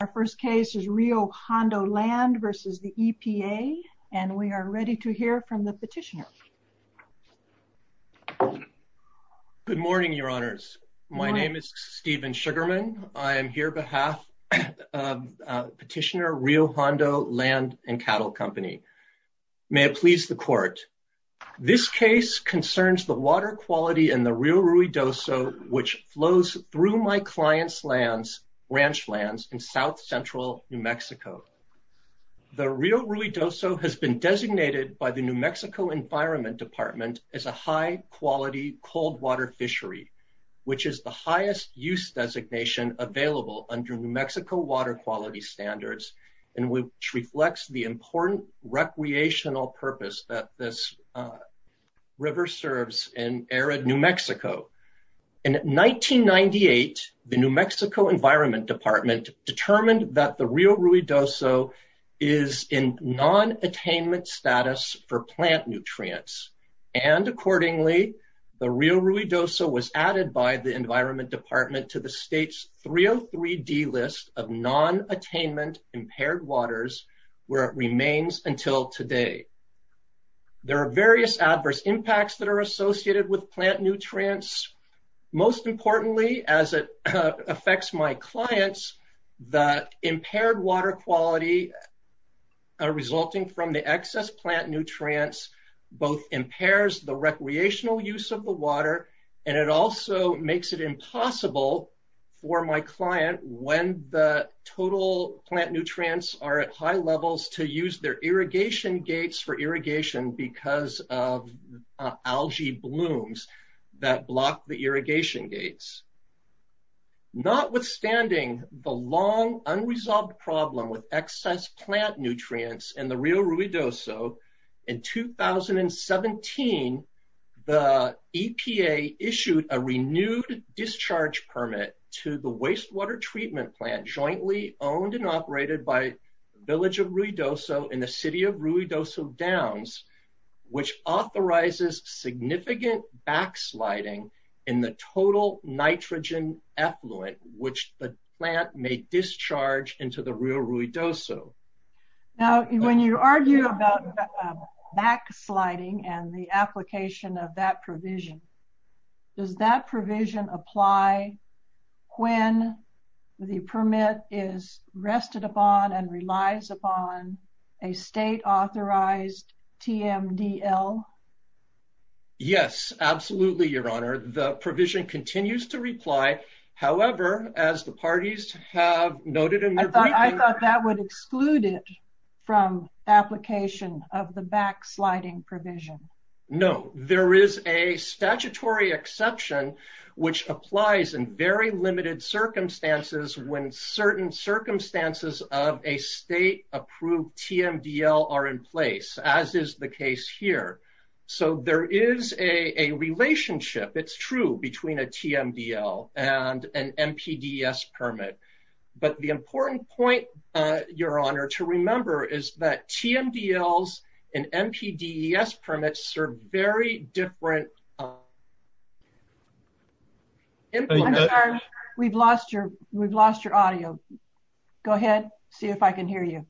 Our first case is Rio Hondo Land v. EPA, and we are ready to hear from the petitioner. Good morning, Your Honors. My name is Steven Sugarman. I am here on behalf of Petitioner Rio Hondo Land & Cattle Company. May it please the Court. This case concerns the water quality in the Rio Ruidoso which flows through my client's lands, ranch lands, in south-central New Mexico. The Rio Ruidoso has been designated by the New Mexico Environment Department as a high-quality cold-water fishery, which is the highest use designation available under New Mexico water quality standards, and which reflects the important recreational purpose that this river serves in arid New Mexico. In 1998, the New Mexico Environment Department determined that the Rio Ruidoso is in non-attainment status for plant nutrients, and accordingly, the Rio Ruidoso was added by the Environment Department to the state's 303D list of non-attainment impaired waters, where it remains until today. There are various adverse impacts that are associated with plant nutrients. Most importantly, as it affects my clients, the impaired water quality resulting from the excess plant nutrients both impairs the recreational use of the water, and it also makes it impossible for my client, when the total plant nutrients are at high levels, to use their irrigation gates for irrigation because of algae blooms that block the irrigation gates. Notwithstanding the long, unresolved problem with excess plant nutrients in the Rio Ruidoso, in 2017, the EPA issued a renewed discharge permit to the wastewater treatment plant jointly owned and operated by the village of Ruidoso in the city of Ruidoso Downs, which authorizes significant backsliding in the total nitrogen effluent which the plant may discharge into the Rio Ruidoso. Now, when you argue about backsliding and the application of that provision, does that rest upon and relies upon a state-authorized TMDL? Yes, absolutely, Your Honor. The provision continues to reply. However, as the parties have noted in their briefing... I thought that would exclude it from application of the backsliding provision. No, there is a statutory exception which applies in very limited circumstances when certain circumstances of a state-approved TMDL are in place, as is the case here. So there is a relationship, it's true, between a TMDL and an MPDES permit. But the important point, Your Honor, to remember is that TMDLs and MPDES permits serve very different... I'm sorry, we've lost your audio. Go ahead, see if I can hear you.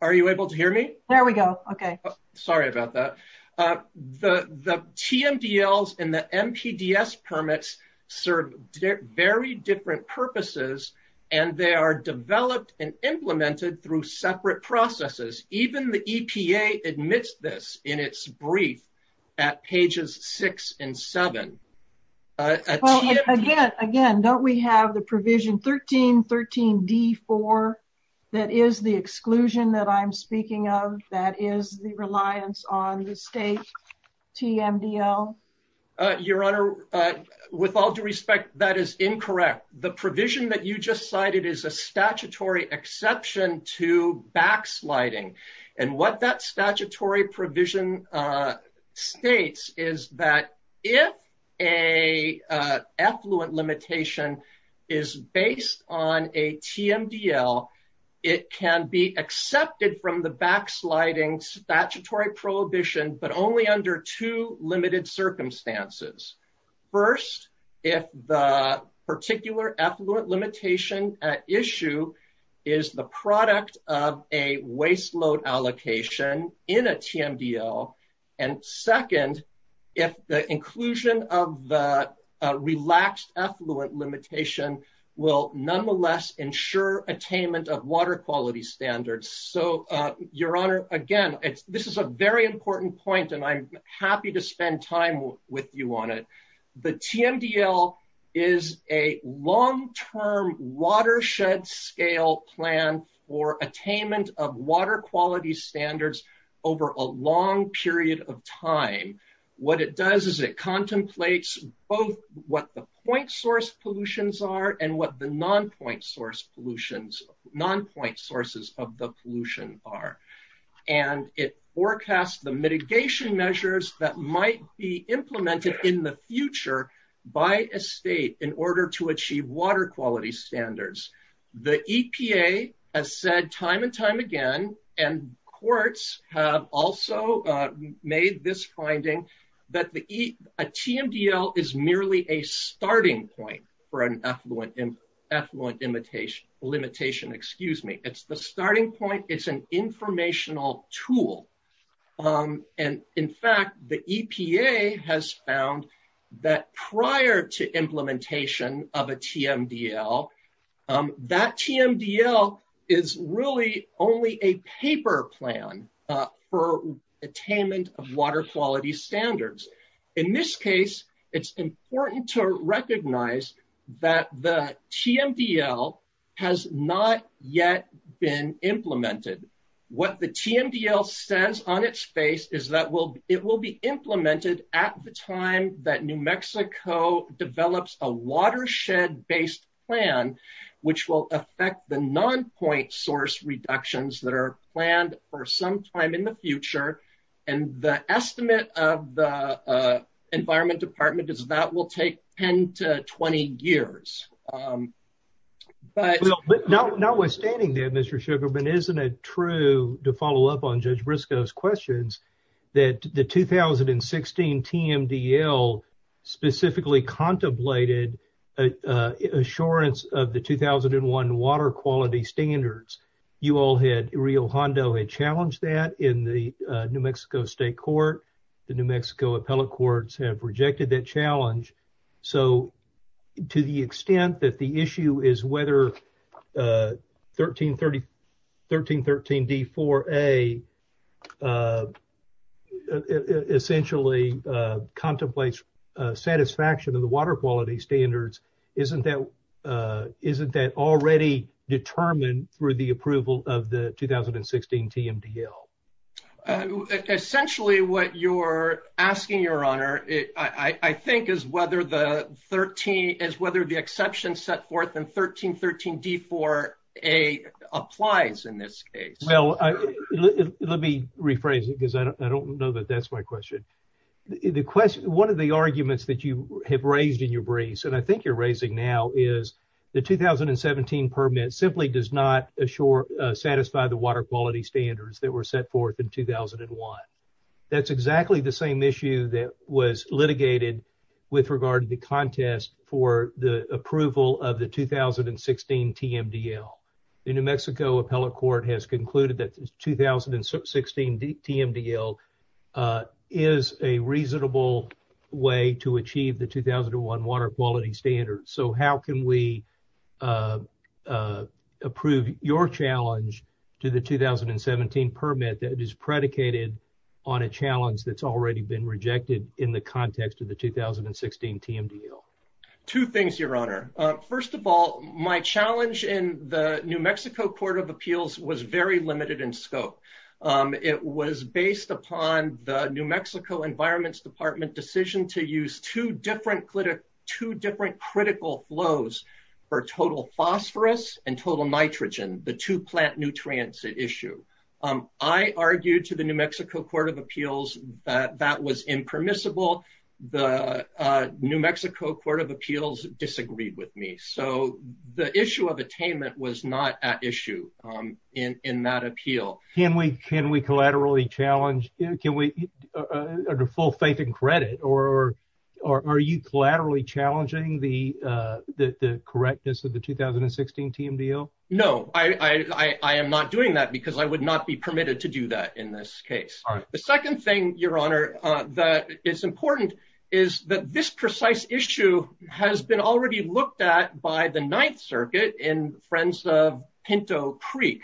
Are you able to hear me? There we go, okay. Sorry about that. The TMDLs and the MPDES permits serve very different purposes and they are developed and implemented through separate processes. Even the EPA admits this in its brief at pages six and seven. Again, don't we have the provision 13.13.d.4 that is the exclusion that I'm speaking of, that is the reliance on the state TMDL? Your Honor, with all due respect, that is incorrect. The provision that you just cited is a statutory exception to backsliding. And what that statutory provision states is that if a effluent limitation is based on a TMDL, it can be accepted from the backsliding statutory prohibition, but only under two limited circumstances. First, if the particular effluent limitation at issue is the product of a waste load allocation in a TMDL. And second, if the inclusion of the relaxed effluent limitation will nonetheless ensure attainment of water quality standards. So, Your Honor, again, this is a very important point and I'm happy to spend time with you on it. The TMDL is a long-term watershed scale plan for attainment of water quality standards over a long period of time. What it does is it contemplates both what the point source pollutions are and what the non-point sources of the pollution are. And it forecasts the mitigation measures that might be implemented in the future by a state in order to achieve water quality standards. The EPA has said time and time again, and courts have also made this finding that a TMDL is merely a starting point for an effluent limitation. It's the starting point, it's an informational tool. And in fact, the EPA has found that prior to implementation of a TMDL, that TMDL is really only a paper plan for attainment of water quality standards. In this case, it's important to recognize that the TMDL has not yet been implemented. What the TMDL says on its face is that it will be implemented at the time that New Mexico develops a watershed-based plan, which will affect the non-point source reductions that are planned for some time in the future. And the estimate of the environment department is that will take 10 to 20 years. But notwithstanding that, Mr. Sugarman, isn't it true, to follow up on Judge Briscoe's questions, that the 2016 TMDL specifically contemplated assurance of the 2001 water quality standards. You all had, Rio Hondo had challenged that in the New Mexico State Court. The New Mexico appellate courts have rejected that challenge. So, to the extent that the issue is whether 1313 D4A essentially contemplates satisfaction of the water quality standards, isn't that already determined through the approval of the 2016 TMDL? Essentially, what you're asking, Your Honor, I think, is whether the exception set forth in 1313 D4A applies in this case. Well, let me rephrase it because I don't know that that's my question. One of the arguments that you have raised in your briefs, I think you're raising now, is the 2017 permit simply does not satisfy the water quality standards that were set forth in 2001. That's exactly the same issue that was litigated with regard to the contest for the approval of the 2016 TMDL. The New Mexico appellate court has concluded that the 2016 TMDL is a reasonable way to achieve the 2001 water quality standards. So, how can we approve your challenge to the 2017 permit that is predicated on a challenge that's already been rejected in the context of the 2016 TMDL? Two things, Your Honor. First of all, my challenge in the New Mexico Court of Appeals was very limited in scope. It was based upon the New Mexico Environment Department's decision to use two different critical flows for total phosphorus and total nitrogen, the two plant nutrients at issue. I argued to the New Mexico Court of Appeals that that was impermissible. The New Mexico Court of Appeals disagreed with me. So, the issue of attainment was not at issue in that appeal. Can we collaterally challenge, can we, under full faith and credit, or are you collaterally challenging the correctness of the 2016 TMDL? No, I am not doing that because I would not be permitted to do that in this case. The second thing, Your Honor, that is important is that this precise issue has been already looked at by the Ninth Circuit in Friends of Pinto Creek.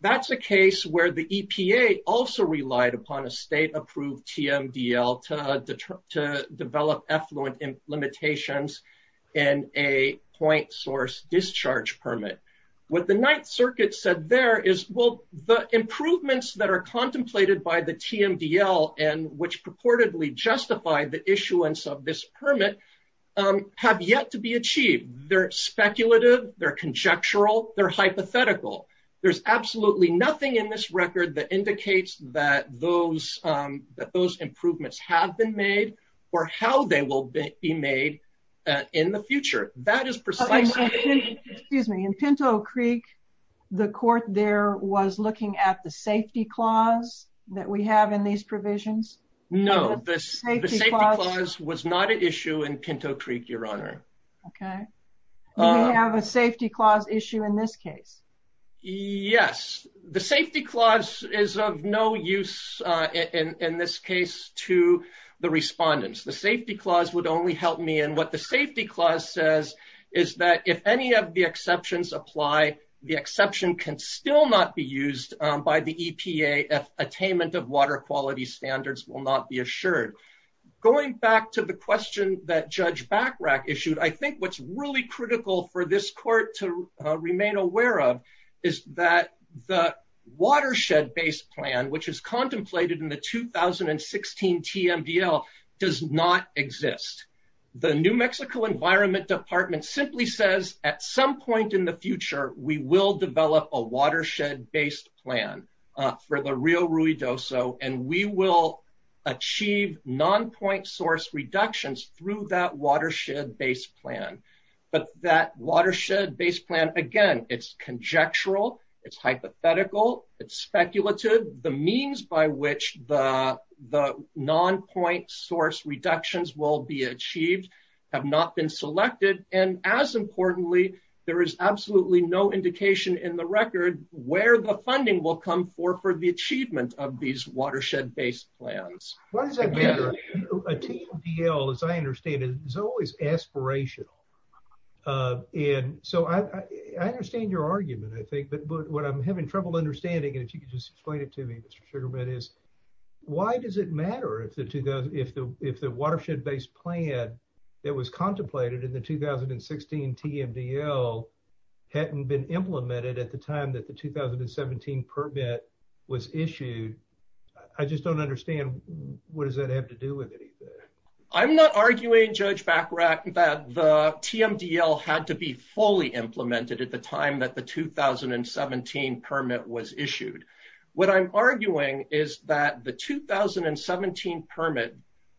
That's a case where the EPA also relied upon a state-approved TMDL to develop effluent limitations in a point source discharge permit. What the Ninth Circuit said there is, well, the improvements that are contemplated by the TMDL and which purportedly justify the issuance of this permit have yet to be achieved. They're speculative. They're conjectural. They're hypothetical. There's absolutely nothing in this record that indicates that those improvements have been made or how they will be made in the future. That is precisely... Excuse me, in Pinto Creek, the court there was looking at the safety clause that we have in these provisions? No, the safety clause was not an issue in Pinto Creek, Your Honor. Okay, do we have a safety clause issue in this case? Yes, the safety clause is of no use in this case to the respondents. The safety clause would only help me and what the safety clause says is that if any of the exceptions apply, the exception can still not be used by the EPA if attainment of water quality standards will not be assured. Going back to the question that Judge Bachrach issued, I think what's really critical for this court to remain aware of is that the watershed-based plan, which is contemplated in the 2016 TMDL does not exist. The New Mexico Environment Department simply says at some point in the future, we will develop a watershed-based plan for the Rio Ruidoso and we will achieve non-point source reductions through that watershed-based plan. But that watershed-based plan, again, it's conjectural, it's hypothetical, it's speculative. The means by which the non-point source reductions will be achieved have not been selected and as importantly, there is absolutely no indication in the record where the funding will come for for the achievement of these watershed-based plans. Why does that matter? A TMDL, as I understand it, is always aspirational. And so I understand your argument, I think, but what I'm having trouble understanding, and if you could just explain it to me, Mr. Sugarbett, is why does it matter if the watershed-based plan that was contemplated in the 2016 TMDL hadn't been implemented at the time that the 2017 permit was issued? I just don't understand what does that have to do with anything? I'm not arguing, Judge Bachrach, that the TMDL had to be fully implemented at the time that the 2017 permit was issued. What I'm arguing is that the 2017 permit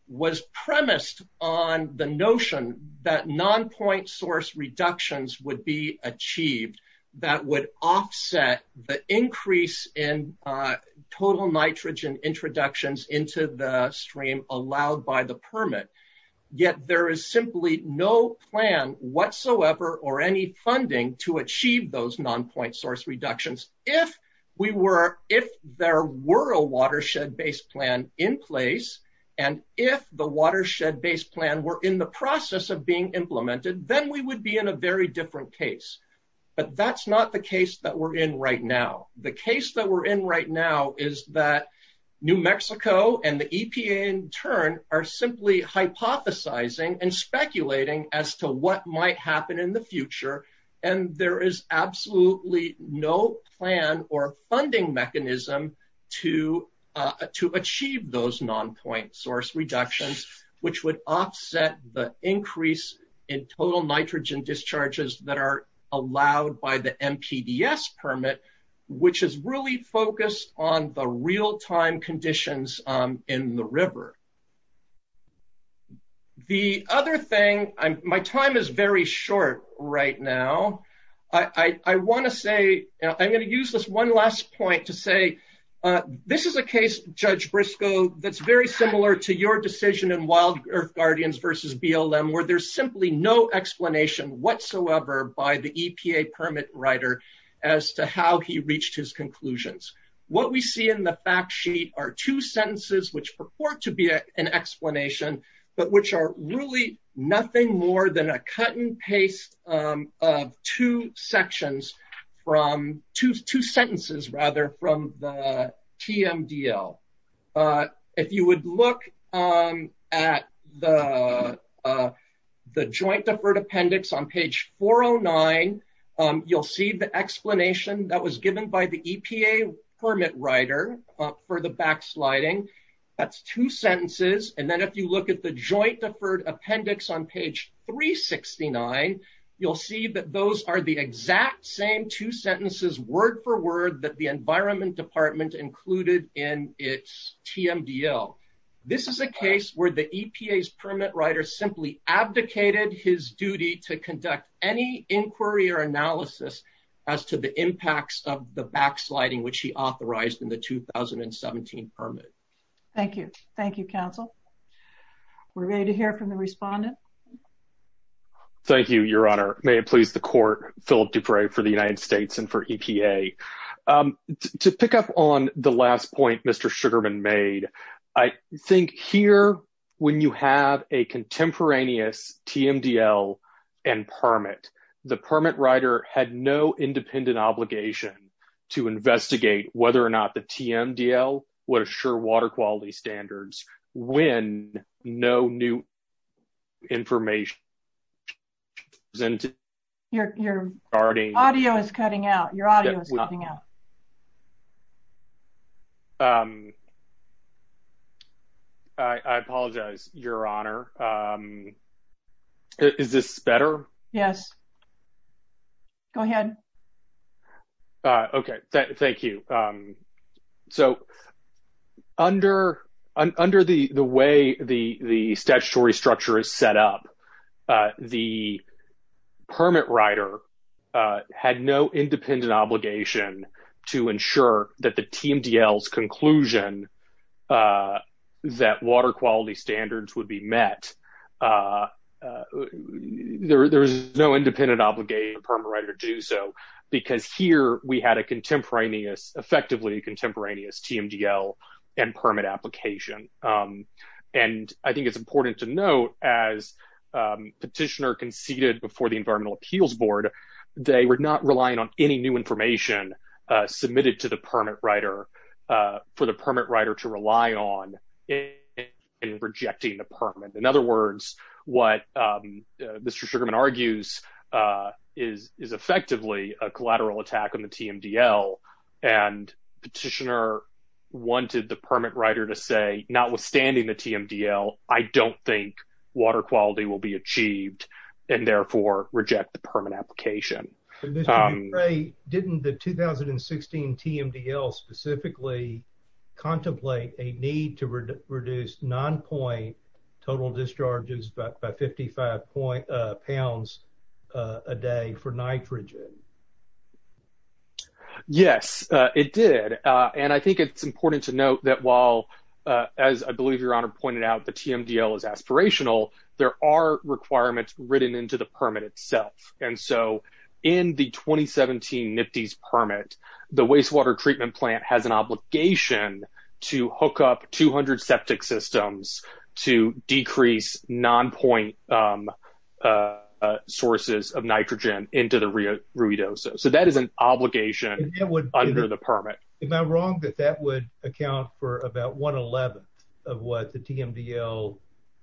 was premised on the notion that non-point source reductions would be achieved that would offset the increase in total nitrogen introductions into the stream allowed by the permit. Yet there is simply no plan whatsoever or any funding to achieve those non-point source reductions. If there were a watershed-based plan in place, and if the watershed-based plan were in the process of being implemented, then we would be in a very different case. But that's not the case that we're in right now. The case that we're in right now is that New Mexico and the EPA in turn are simply hypothesizing and speculating as to what might happen in the future, and there is absolutely no plan or funding mechanism to achieve those non-point source reductions, which would offset the increase in total nitrogen discharges that are allowed by the MPDS permit, which is really focused on the real-time conditions in the river. My time is very short right now. I'm going to use this one last point to say, this is a case, Judge Briscoe, that's very similar to your decision in Wild Earth Guardians versus BLM, where there's simply no explanation whatsoever by the EPA permit writer as to how he reached his conclusions. What we see in the fact sheet are two sentences which purport to be an explanation, but which are really nothing more than a cut and paste of two sections from, two sentences rather, from the TMDL. If you would look at the joint deferred appendix on page 409, you'll see the explanation that was given by the EPA permit writer for the backsliding. That's two sentences. And then if you look at the joint deferred appendix on page 369, you'll see that those are the exact same two sentences, word for word, that the Environment Department included in its TMDL. This is a case where the EPA's permit writer simply abdicated his duty to conduct any inquiry or analysis as to the impacts of the backsliding, which he authorized in the 2017 permit. Thank you. Thank you, counsel. We're ready to hear from the respondent. Thank you, Your Honor. May it please the court, Philip Dupre for the United States and for EPA. To pick up on the last point Mr. Sugarman made, I think here when you have a contemporaneous TMDL and permit, the permit writer had no independent obligation to investigate whether or not the TMDL would assure water quality standards when no new information was presented. Your audio is cutting out. Your audio is cutting out. I apologize, Your Honor. Is this better? Yes. Go ahead. Okay, thank you. So, under the way the statutory structure is set up, the permit writer had no independent obligation to ensure that the TMDL's conclusion that water quality standards would be met. There's no independent obligation for the permit writer to do so because here we had a contemporaneous, effectively contemporaneous TMDL and permit application. And I think it's important to note, as petitioner conceded before the Environmental Appeals Board, they were not relying on any new information submitted to the permit writer for the permit writer to rely on in rejecting the permit. In other words, what Mr. Sugarman argues is effectively a collateral attack on the TMDL. And petitioner wanted the permit writer to say, notwithstanding the TMDL, I don't think water quality will be achieved and therefore reject the permit application. Mr. McRae, didn't the 2016 TMDL specifically contemplate a need to reduce non-point total discharges by 55 pounds a day for nitrogen? Yes, it did. And I think it's important to note that while, as I believe Your Honor pointed out, the TMDL is aspirational, there are requirements written into the permit itself. And so in the 2017 NPDES permit, the Wastewater Treatment Plant has an obligation to hook up 200 septic systems to decrease non-point sources of nitrogen into the Ruidoso. So that is an obligation under the permit. Am I wrong that that would account for about 1 11th of what the TMDL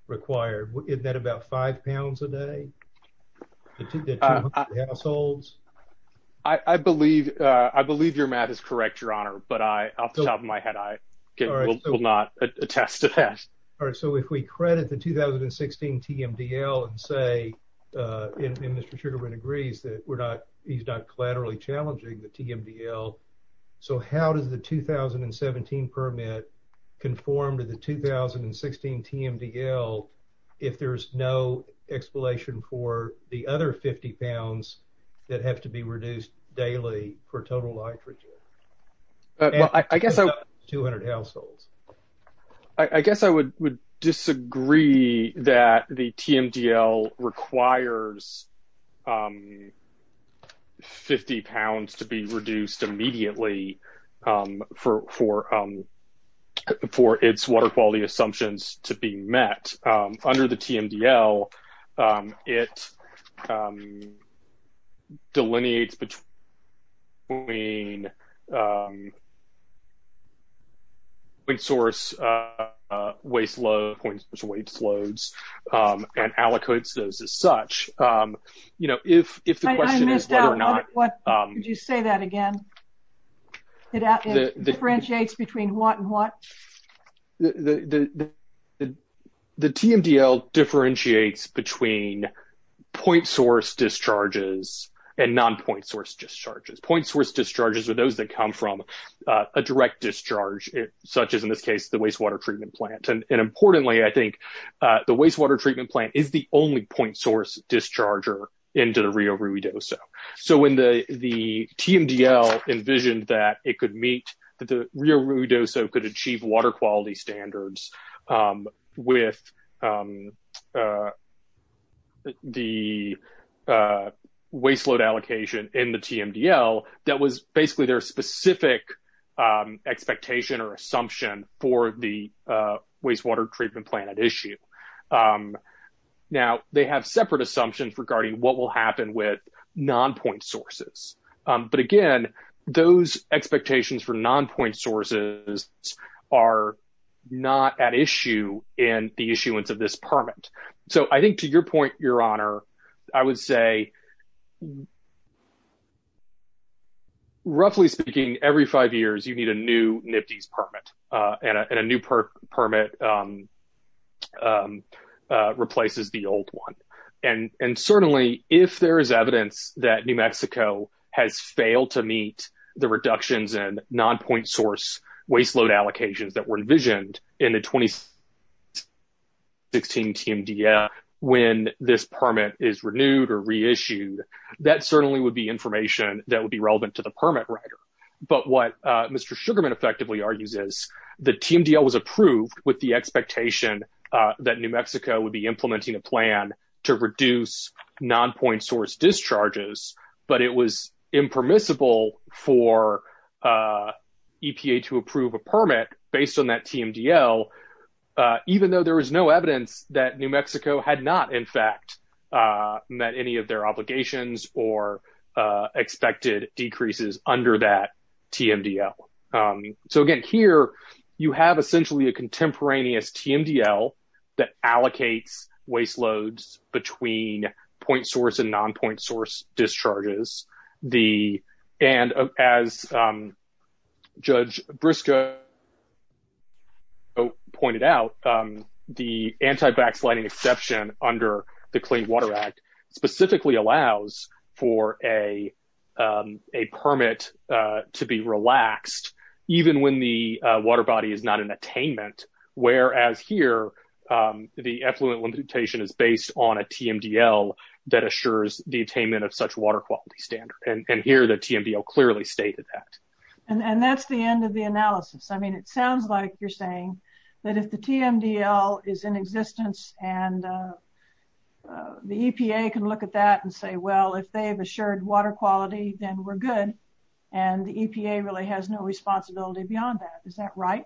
required? Isn't that about five pounds a day? The 200 households? I believe your math is correct, Your Honor. But off the top of my head, I will not attest to that. All right. So if we credit the 2016 TMDL and say, and Mr. Sugarman agrees that he's not collaterally challenging the TMDL, so how does the 2017 permit conform to the 2016 TMDL if there's no explanation for the other 50 pounds that have to be reduced daily for total nitrogen? I guess I would disagree that the TMDL requires 50 pounds to be reduced immediately for its water quality assumptions to be met. Under the TMDL, it delineates between point source waste loads and allocates those as such. You know, if the question is whether or not... I missed out. Could you say that again? It differentiates between what and what? The TMDL differentiates between point source discharges and non-point source discharges. Point source discharges are those that come from a direct discharge, such as in this case, the wastewater treatment plant. And importantly, I think the wastewater treatment plant is the only point source discharger into the Rio Ruidoso. So when the TMDL envisioned that it could meet, that the Rio Ruidoso could achieve water quality standards with the waste load allocation in the TMDL, that was basically their specific expectation or assumption for the wastewater treatment plant at issue. Now, they have separate assumptions regarding what will happen with non-point sources. But again, those expectations for non-point sources are not at issue in the issuance of this permit. So I think to your point, Your Honor, I would say, roughly speaking, every five years, you need a new NPDES permit and a new permit replaces the old one. And certainly, if there is evidence that New Mexico has failed to meet the reductions in non-point source waste load allocations that were envisioned in the 2016 TMDL when this permit is renewed or reissued, that certainly would be information that would be relevant to the permit writer. But what Mr. Sugarman effectively argues is the TMDL was approved with the expectation that New Mexico would be implementing a plan to reduce non-point source discharges, but it was impermissible for EPA to approve a permit based on that TMDL, even though there was no evidence that New Mexico had not in fact met any of their obligations or expected decreases under that TMDL. So again, here, you have essentially a contemporaneous TMDL that allocates waste loads between point source and non-point source discharges. And as Judge Briscoe pointed out, the anti-backsliding exception under the Clean Water Act specifically allows for a permit to be relaxed even when the water body is not in attainment, whereas here, the effluent limitation is based on a TMDL that assures the attainment of such water quality standard. And here, the TMDL clearly stated that. And that's the end of the analysis. I mean, it sounds like you're saying that if the TMDL is in existence and the EPA can look at that and say, well, if they've assured water quality, then we're good. And the EPA really has no responsibility beyond that. Is that right?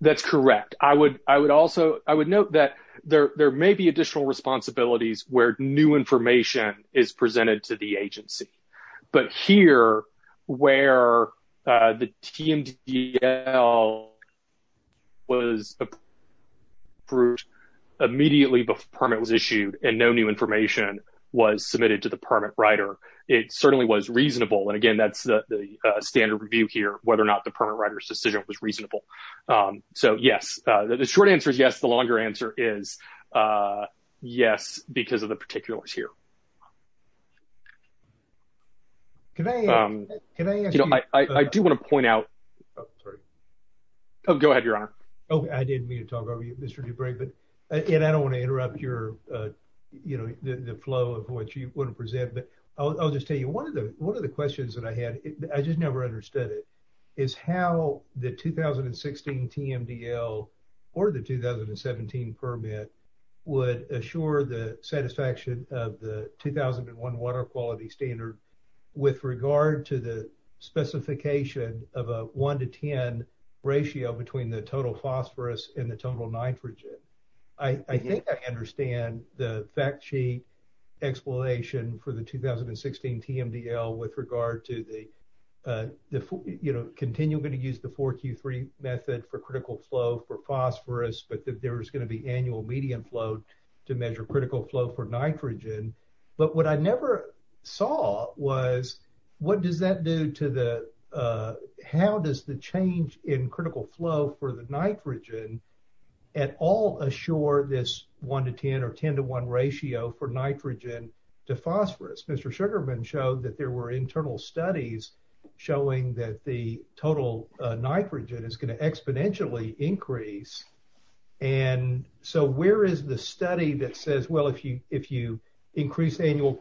That's correct. I would note that there may be additional responsibilities where new information is presented to the agency. But here, where the TMDL was approved immediately before the permit was issued and no new information was submitted to the permit writer, it certainly was reasonable. And again, that's the standard review here, whether or not the permit writer's decision was reasonable. So yes, the short answer is yes. The longer answer is yes, because of the particulars here. Can I ask you? You know, I do want to point out. Oh, sorry. Oh, go ahead, Your Honor. Okay, I didn't mean to talk over you, Mr. Dupre, but I don't want to interrupt the flow of what you want to present. But I'll just tell you, one of the questions that I had, I just never understood it, is how the 2016 TMDL or the 2017 permit would assure the satisfaction of the 2001 water quality standard with regard to the specification of a 1 to 10 ratio between the total phosphorus and the total nitrogen. I think I understand the fact sheet explanation for the 2016 TMDL with regard to the, you know, continuing to use the 4Q3 method for critical flow for phosphorus, but that there is going to be annual median flow to measure critical flow for nitrogen. But what I never saw was, what does that do to the, how does the change in critical flow for the nitrogen at all assure this 1 to 10 or 10 to 1 ratio for nitrogen to phosphorus? Mr. Sugarman showed that there were internal studies showing that the total nitrogen is going to exponentially increase. And so where is the study that says, well, if you increase annual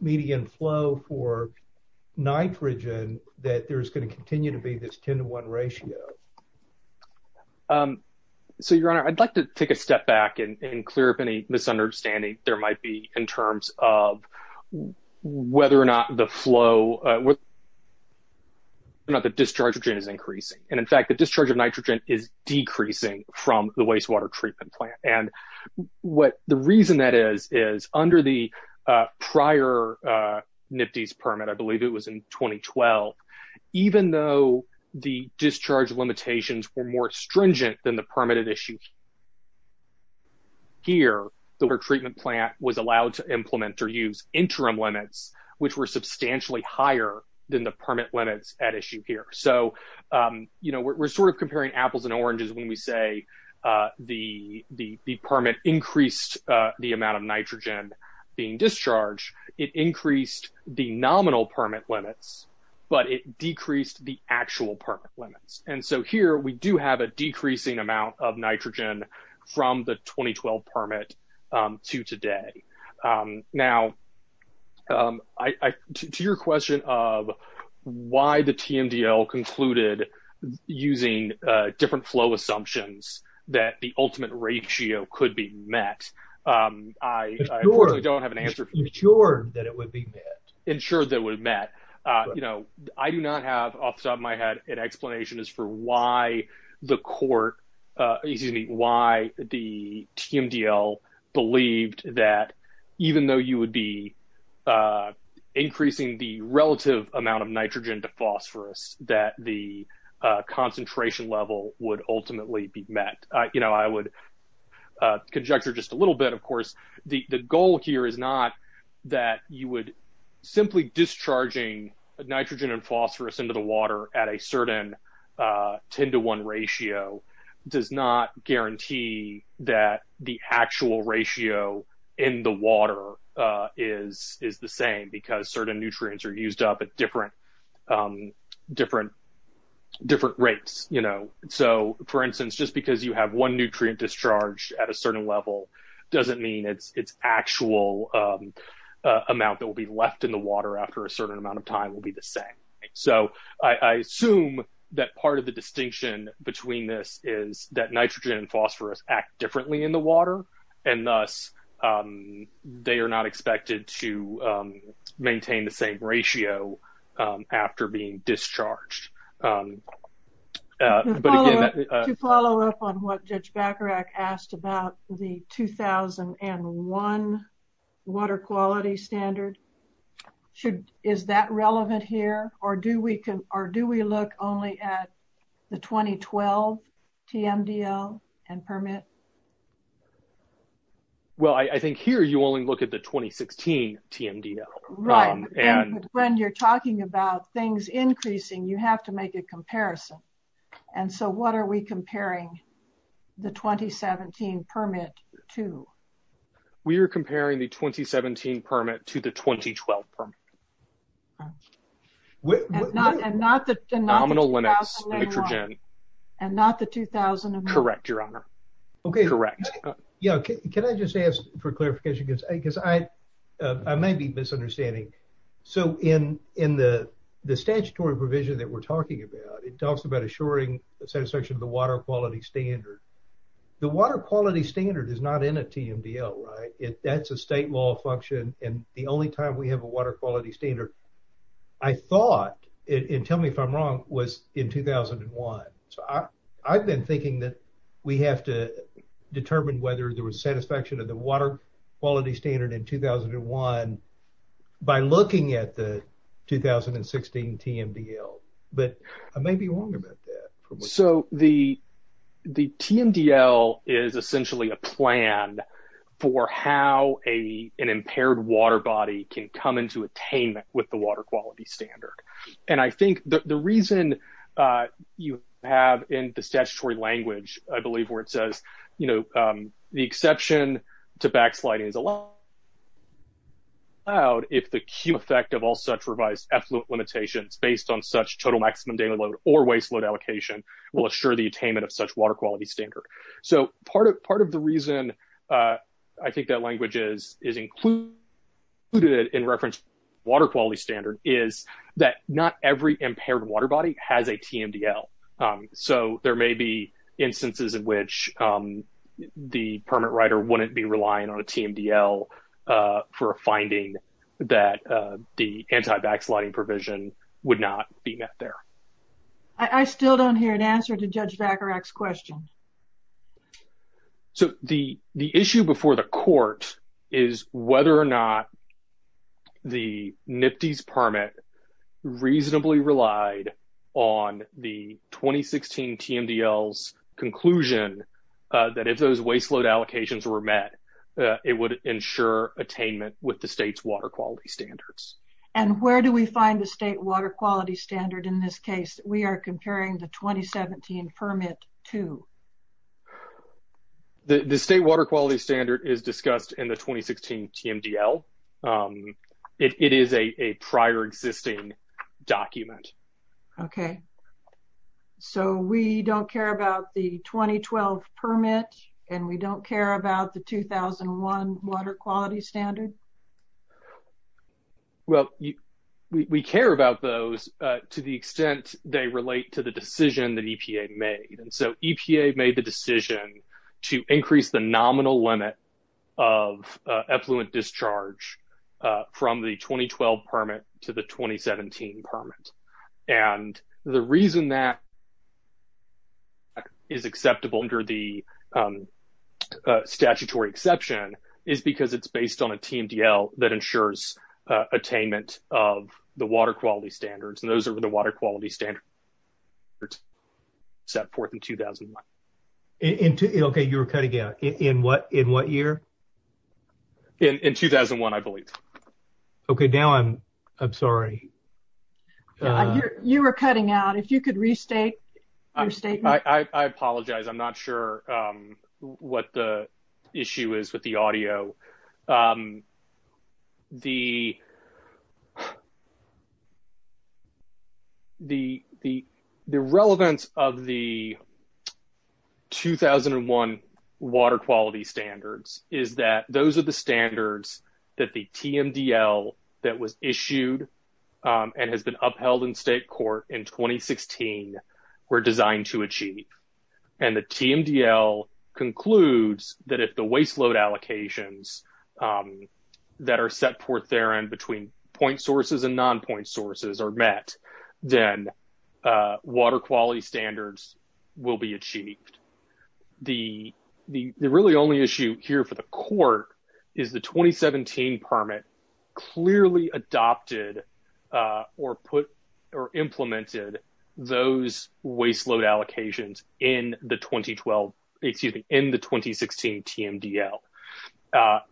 median flow for nitrogen, that there's going to continue to be this 10 to 1 ratio? So, your honor, I'd like to take a step back and clear up any misunderstanding there might be in terms of whether or not the flow, whether or not the discharge of nitrogen is increasing. And in fact, the discharge of nitrogen is decreasing from the wastewater treatment plant. And what the reason that is, is under the prior NPDES permit, I believe it was in 2012, even though the discharge limitations were more stringent than the permitted issue here, the water treatment plant was allowed to implement or use interim limits, which were substantially higher than the permit limits at issue here. So, we're sort of comparing apples and oranges when we say the permit increased the amount of nitrogen being discharged. It increased the nominal permit limits, but it decreased the actual permit limits. And so here we do have a decreasing amount of nitrogen from the 2012 permit to today. Now, to your question of why the TMDL concluded using different flow assumptions that the ultimate ratio could be met, I unfortunately don't have an answer for you. Ensured that it would be met. Ensured that it would be met. I do not have off the top of my head an explanation as for why the court, excuse me, why the TMDL believed that even though you would be increasing the relative amount of nitrogen to phosphorus, that the concentration level would ultimately be met. You know, I would conjecture just a little bit, of course, the goal here is not that you would simply discharging nitrogen and phosphorus into the water at a certain 10 to 1 ratio does not guarantee that the actual ratio in the water is the same because certain nutrients are used up at different rates, you know. So for instance, just because you have one nutrient discharge at a certain level doesn't mean it's actual amount that will be left in the water after a certain amount of time will be the same. So I assume that part of the distinction between this is that nitrogen and phosphorus act differently in the water and thus they are not expected to maintain the same ratio after being discharged. To follow up on what Judge Bacharach asked about the 2001 water quality standard, is that relevant here or do we look only at the 2012 TMDL and permit? Well, I think here you only look at the 2016 TMDL. Right, when you're talking about things increasing, you have to make a comparison. And so what are we comparing the 2017 permit to? We are comparing the 2017 permit to the 2012 permit. And not the 2000 later on, and not the 2001. Correct, Your Honor, correct. Yeah, can I just ask for clarification because I may be misunderstanding. So in the statutory provision that we're talking about, it talks about assuring the satisfaction of the water quality standard. The water quality standard is not in a TMDL, right? That's a state law function and the only time we have a water quality standard, I thought, and tell me if I'm wrong, was in 2001. So I've been thinking that we have to determine whether there was satisfaction of the water quality standard in 2001 by looking at the 2016 TMDL, but I may be wrong about that. So the TMDL is essentially a plan for how an impaired water body can come into attainment with the water quality standard. And I think the reason you have in the statutory language, I believe where it says, the exception to backsliding is allowed if the Q effect of all such revised effluent limitations based on such total maximum daily load or waste load allocation will assure the attainment of such water quality standard. So part of the reason I think that language is included in reference water quality standard is that not every impaired water body has a TMDL. So there may be instances in which the permit writer wouldn't be relying on a TMDL for a finding that the anti-backsliding provision would not be met there. I still don't hear an answer to Judge Vacarac's question. So the issue before the court is whether or not the NPDES permit reasonably relied on the 2016 TMDL's conclusion that if those waste load allocations were met, it would ensure attainment with the state's water quality standards. And where do we find the state water quality standard in this case? We are comparing the 2017 permit to? The state water quality standard is discussed in the 2016 TMDL. It is a prior existing document. Okay. So we don't care about the 2012 permit and we don't care about the 2001 water quality standard? Well, we care about those to the extent they relate to the decision that EPA made. And so EPA made the decision to increase the nominal limit of effluent discharge from the 2012 permit to the 2017 permit. And the reason that is acceptable under the statutory exception is because it's based on a TMDL. That ensures attainment of the water quality standards. And those are the water quality standards set forth in 2001. Okay. You were cutting out in what year? In 2001, I believe. Okay. Now I'm sorry. You were cutting out. If you could restate your statement. I apologize. I'm not sure what the issue is with the audio. The relevance of the 2001 water quality standards is that those are the standards that the TMDL that was issued and has been upheld in state court in 2016 were designed to achieve. And the TMDL concludes that if the waste load allocations that are set forth therein between point sources and non-point sources are met, then water quality standards will be achieved. The really only issue here for the court is the 2017 permit clearly adopted or implemented those waste load allocations in the 2016 TMDL.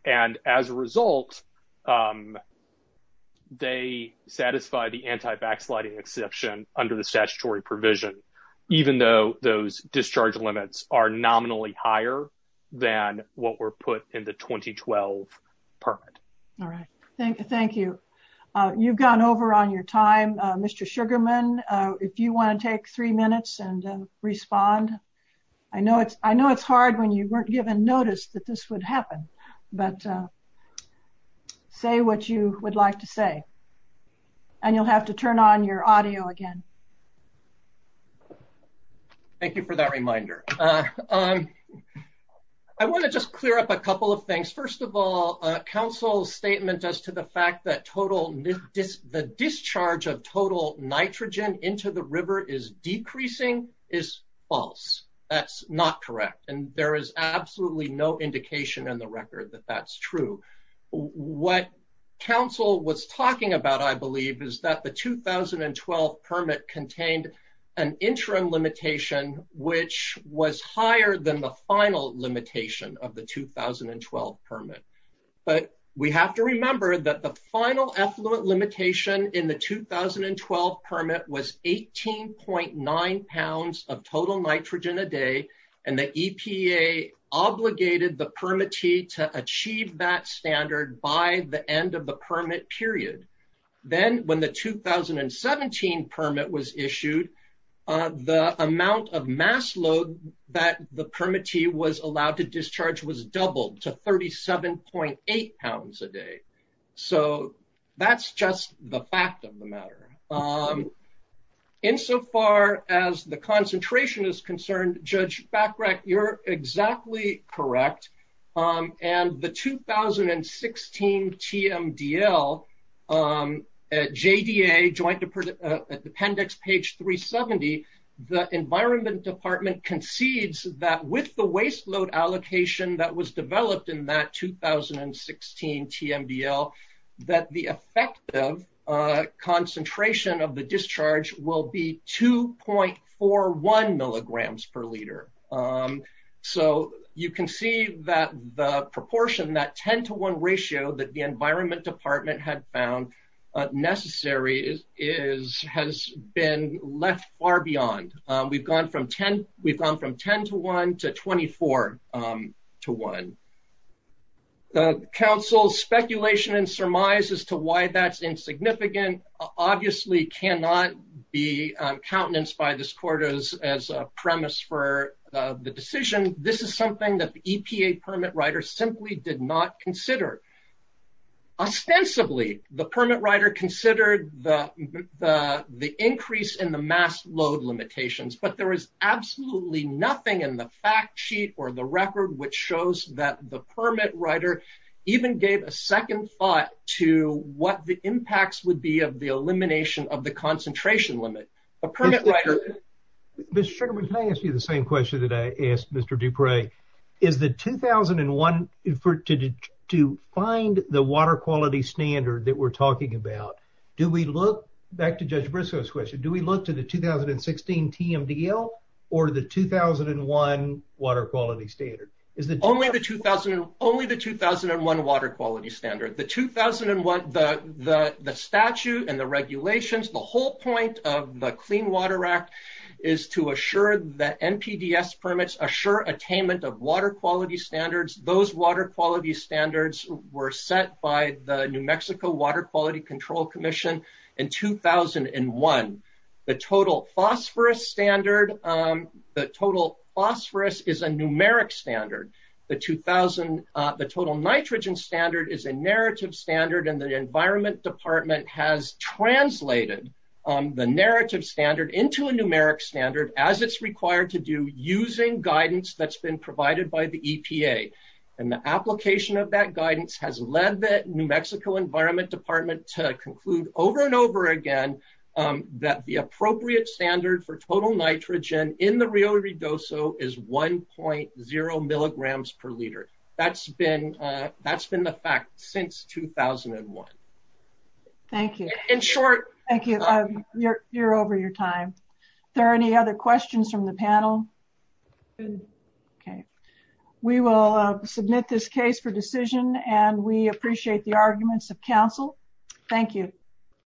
And as a result, they satisfy the anti-backsliding exception under the statutory provision, even though those discharge limits are nominally higher than what were put in the 2012 permit. All right. Thank you. You've gone over on your time. Mr. Sugarman, if you want to take three minutes and respond. I know it's hard when you weren't given notice that this would happen, but say what you would like to say. And you'll have to turn on your audio again. Thank you for that reminder. I want to just clear up a couple of things. First of all, a council statement as to the fact that the discharge of total nitrogen into the river is decreasing is false. That's not correct. And there is absolutely no indication in the record that that's true. What council was talking about, I believe is that the 2012 permit contained an interim limitation, which was higher than the final limitation of the 2012 permit. But we have to remember that the final effluent limitation in the 2012 permit was 18.9 pounds of total nitrogen a day. And the EPA obligated the permittee to achieve that standard by the end of the permit period. Then when the 2017 permit was issued, the amount of mass load that the permittee was allowed to discharge was doubled to 37.8 pounds a day. So that's just the fact of the matter. Insofar as the concentration is concerned, Judge Bachrach, you're exactly correct. And the 2016 TMDL at JDA joint appendix page 370, the environment department concedes that with the waste load allocation that was developed in that 2016 TMDL, that the effective concentration of the discharge will be 2.41 milligrams per liter. So you can see that the proportion, that 10 to one ratio that the environment department had found necessary has been left far beyond. We've gone from 10 to one to 24. To one, the council's speculation and surmise as to why that's insignificant, obviously cannot be countenanced by this court as a premise for the decision. This is something that the EPA permit writer simply did not consider. Ostensibly, the permit writer considered the increase in the mass load limitations, but there is absolutely nothing in the fact sheet or the record which shows that the permit writer even gave a second thought to what the impacts would be of the elimination of the concentration limit. A permit writer- Mr. Sugarman, can I ask you the same question that I asked Mr. Duprey? Is the 2001, to find the water quality standard that we're talking about, do we look back to Judge Briscoe's question, do we look to the 2016 TMDL or the 2001 water quality standard? Only the 2001 water quality standard. The 2001, the statute and the regulations, the whole point of the Clean Water Act is to assure that NPDES permits assure attainment of water quality standards. Those water quality standards were set by the New Mexico Water Quality Control Commission in 2001. The total phosphorus standard, the total phosphorus is a numeric standard. The total nitrogen standard is a narrative standard and the environment department has translated the narrative standard into a numeric standard as it's required to do using guidance that's been provided by the EPA. And the application of that guidance has led the New Mexico environment department to conclude over and over again that the appropriate standard for total nitrogen in the Rio Redoso is 1.0 milligrams per liter. That's been the fact since 2001. Thank you. In short- Thank you, you're over your time. Are there any other questions from the panel? Okay, we will submit this case for decision and we appreciate the arguments of council. Thank you.